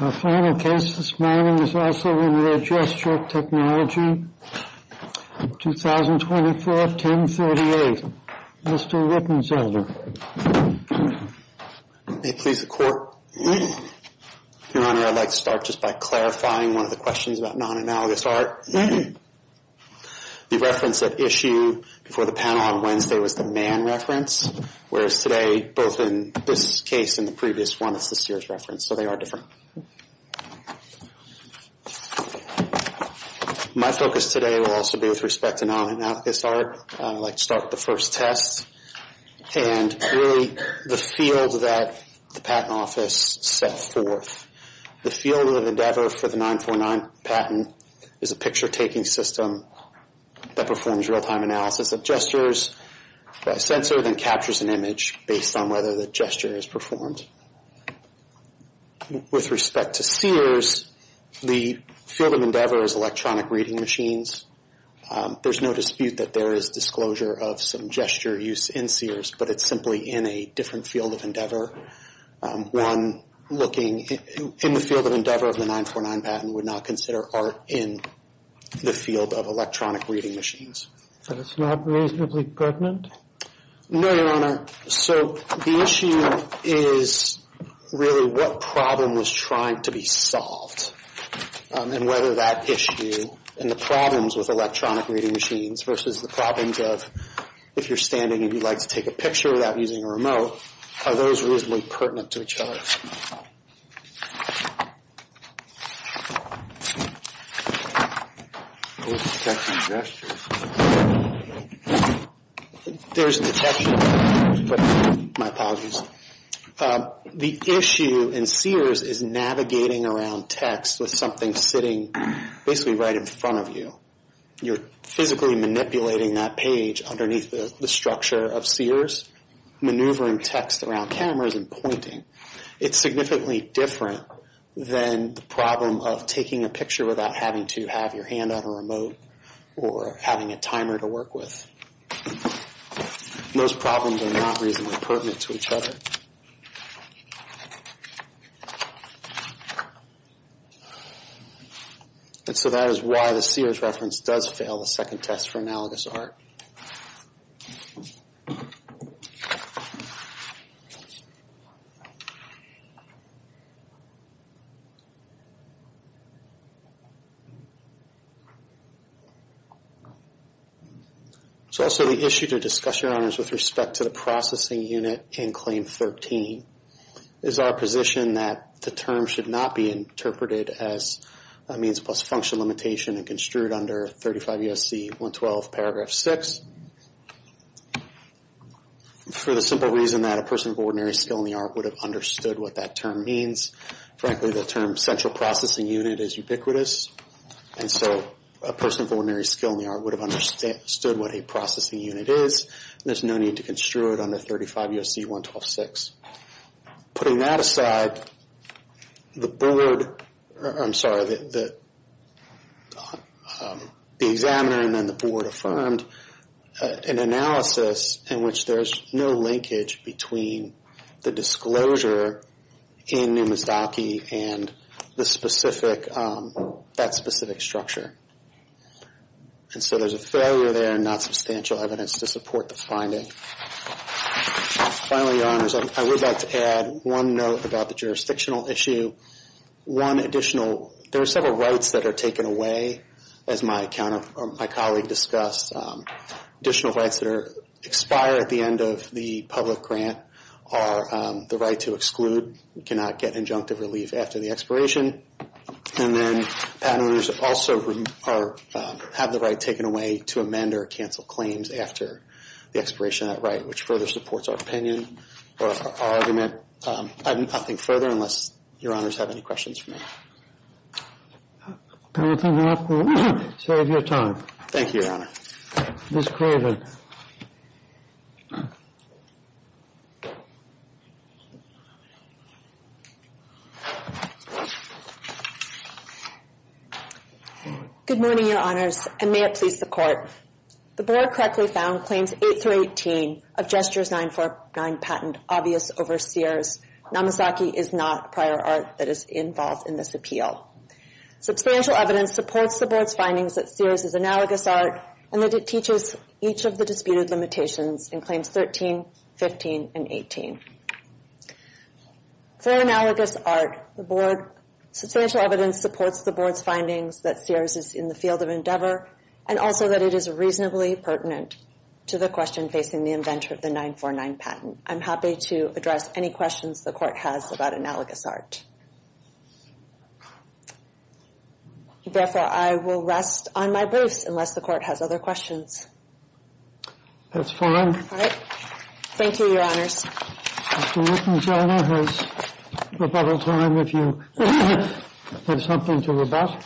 Our final case this morning is also in Re. Gesture Technology, 2024-1038. Mr. Rippins, Elder. May it please the Court. Your Honor, I'd like to start just by clarifying one of the questions about non-analogous art. The reference at issue before the panel on Wednesday was the man reference, whereas today, both in this case and the previous one, it's the Sears reference. So they are different. My focus today will also be with respect to non-analogous art. I'd like to start with the first test and really the field that the Patent Office set forth. The field of endeavor for the 949 patent is a picture-taking system that performs real-time analysis of gestures by a sensor, then captures an image based on whether the gesture is performed. With respect to Sears, the field of endeavor is electronic reading machines. There's no dispute that there is disclosure of some gesture use in Sears, but it's simply in a different field of endeavor. One looking in the field of endeavor of the 949 patent would not consider art in the field of electronic reading machines. But it's not reasonably pertinent? No, Your Honor. So the issue is really what problem was trying to be solved and whether that issue and the problems with electronic reading machines versus the problems of if you're standing and you'd like to take a picture without using a remote, are those reasonably pertinent to each other? The issue in Sears is navigating around text with something sitting basically right in front of you. You're physically manipulating that page underneath the structure of Sears, maneuvering text around cameras and pointing. It's significantly different than the problem of taking a picture without having to have your hand on a remote or having a timer to work with. Those problems are not reasonably pertinent to each other. And so that is why the Sears reference does fail the second test for analogous art. So also the issue to discuss, Your Honors, with respect to the processing unit in Claim 13 is our position that the term should not be interpreted as a means plus function limitation and construed under 35 U.S.C. 112, paragraph 6, for the simple reason that a person of ordinary skill in the art would have understood what that term means. Frankly, the term central processing unit is ubiquitous. And so a person of ordinary skill in the art would have understood what a processing unit is. There's no need to construe it under 35 U.S.C. 112, 6. Putting that aside, the board, I'm sorry, the examiner and then the board affirmed an analysis in which there's no linkage between the disclosure in Numizdaki and the specific, that specific structure. And so there's a failure there and not substantial evidence to support the finding. Finally, Your Honors, I would like to add one note about the jurisdictional issue. One additional, there are several rights that are taken away, as my colleague discussed. Additional rights that expire at the end of the public grant are the right to exclude, cannot get injunctive relief after the expiration. And then patent holders also have the right taken away to amend or cancel claims after the expiration of that right, which further supports our opinion or our argument. I have nothing further unless Your Honors have any questions for me. Can we open it up for you? Save your time. Thank you, Your Honor. Ms. Craven. Good morning, Your Honors, and may it please the Court. The Board correctly found Claims 8 through 18 of Gestures 949 patent obvious over Sears. Numizdaki is not prior art that is involved in this appeal. Substantial evidence supports the Board's findings that Sears is analogous art and that it teaches each of the disputed limitations in Claims 13, 15, and 18. For analogous art, the Board, substantial evidence supports the Board's findings that Sears is in the field of endeavor and also that it is reasonably pertinent to the question facing the inventor of the 949 patent. I'm happy to address any questions the Court has about analogous art. Therefore, I will rest on my briefs unless the Court has other questions. That's fine. Thank you, Your Honors. Mr. Newton-Jonah has rebuttal time if you have something to rebut.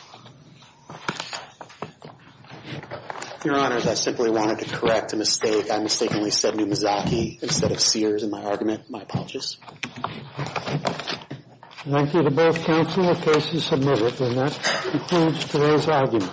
Your Honors, I simply wanted to correct a mistake I mistakenly said Numizdaki instead of Sears in my argument. My apologies. Thank you to both counsel. The case is submitted. And that concludes today's argument.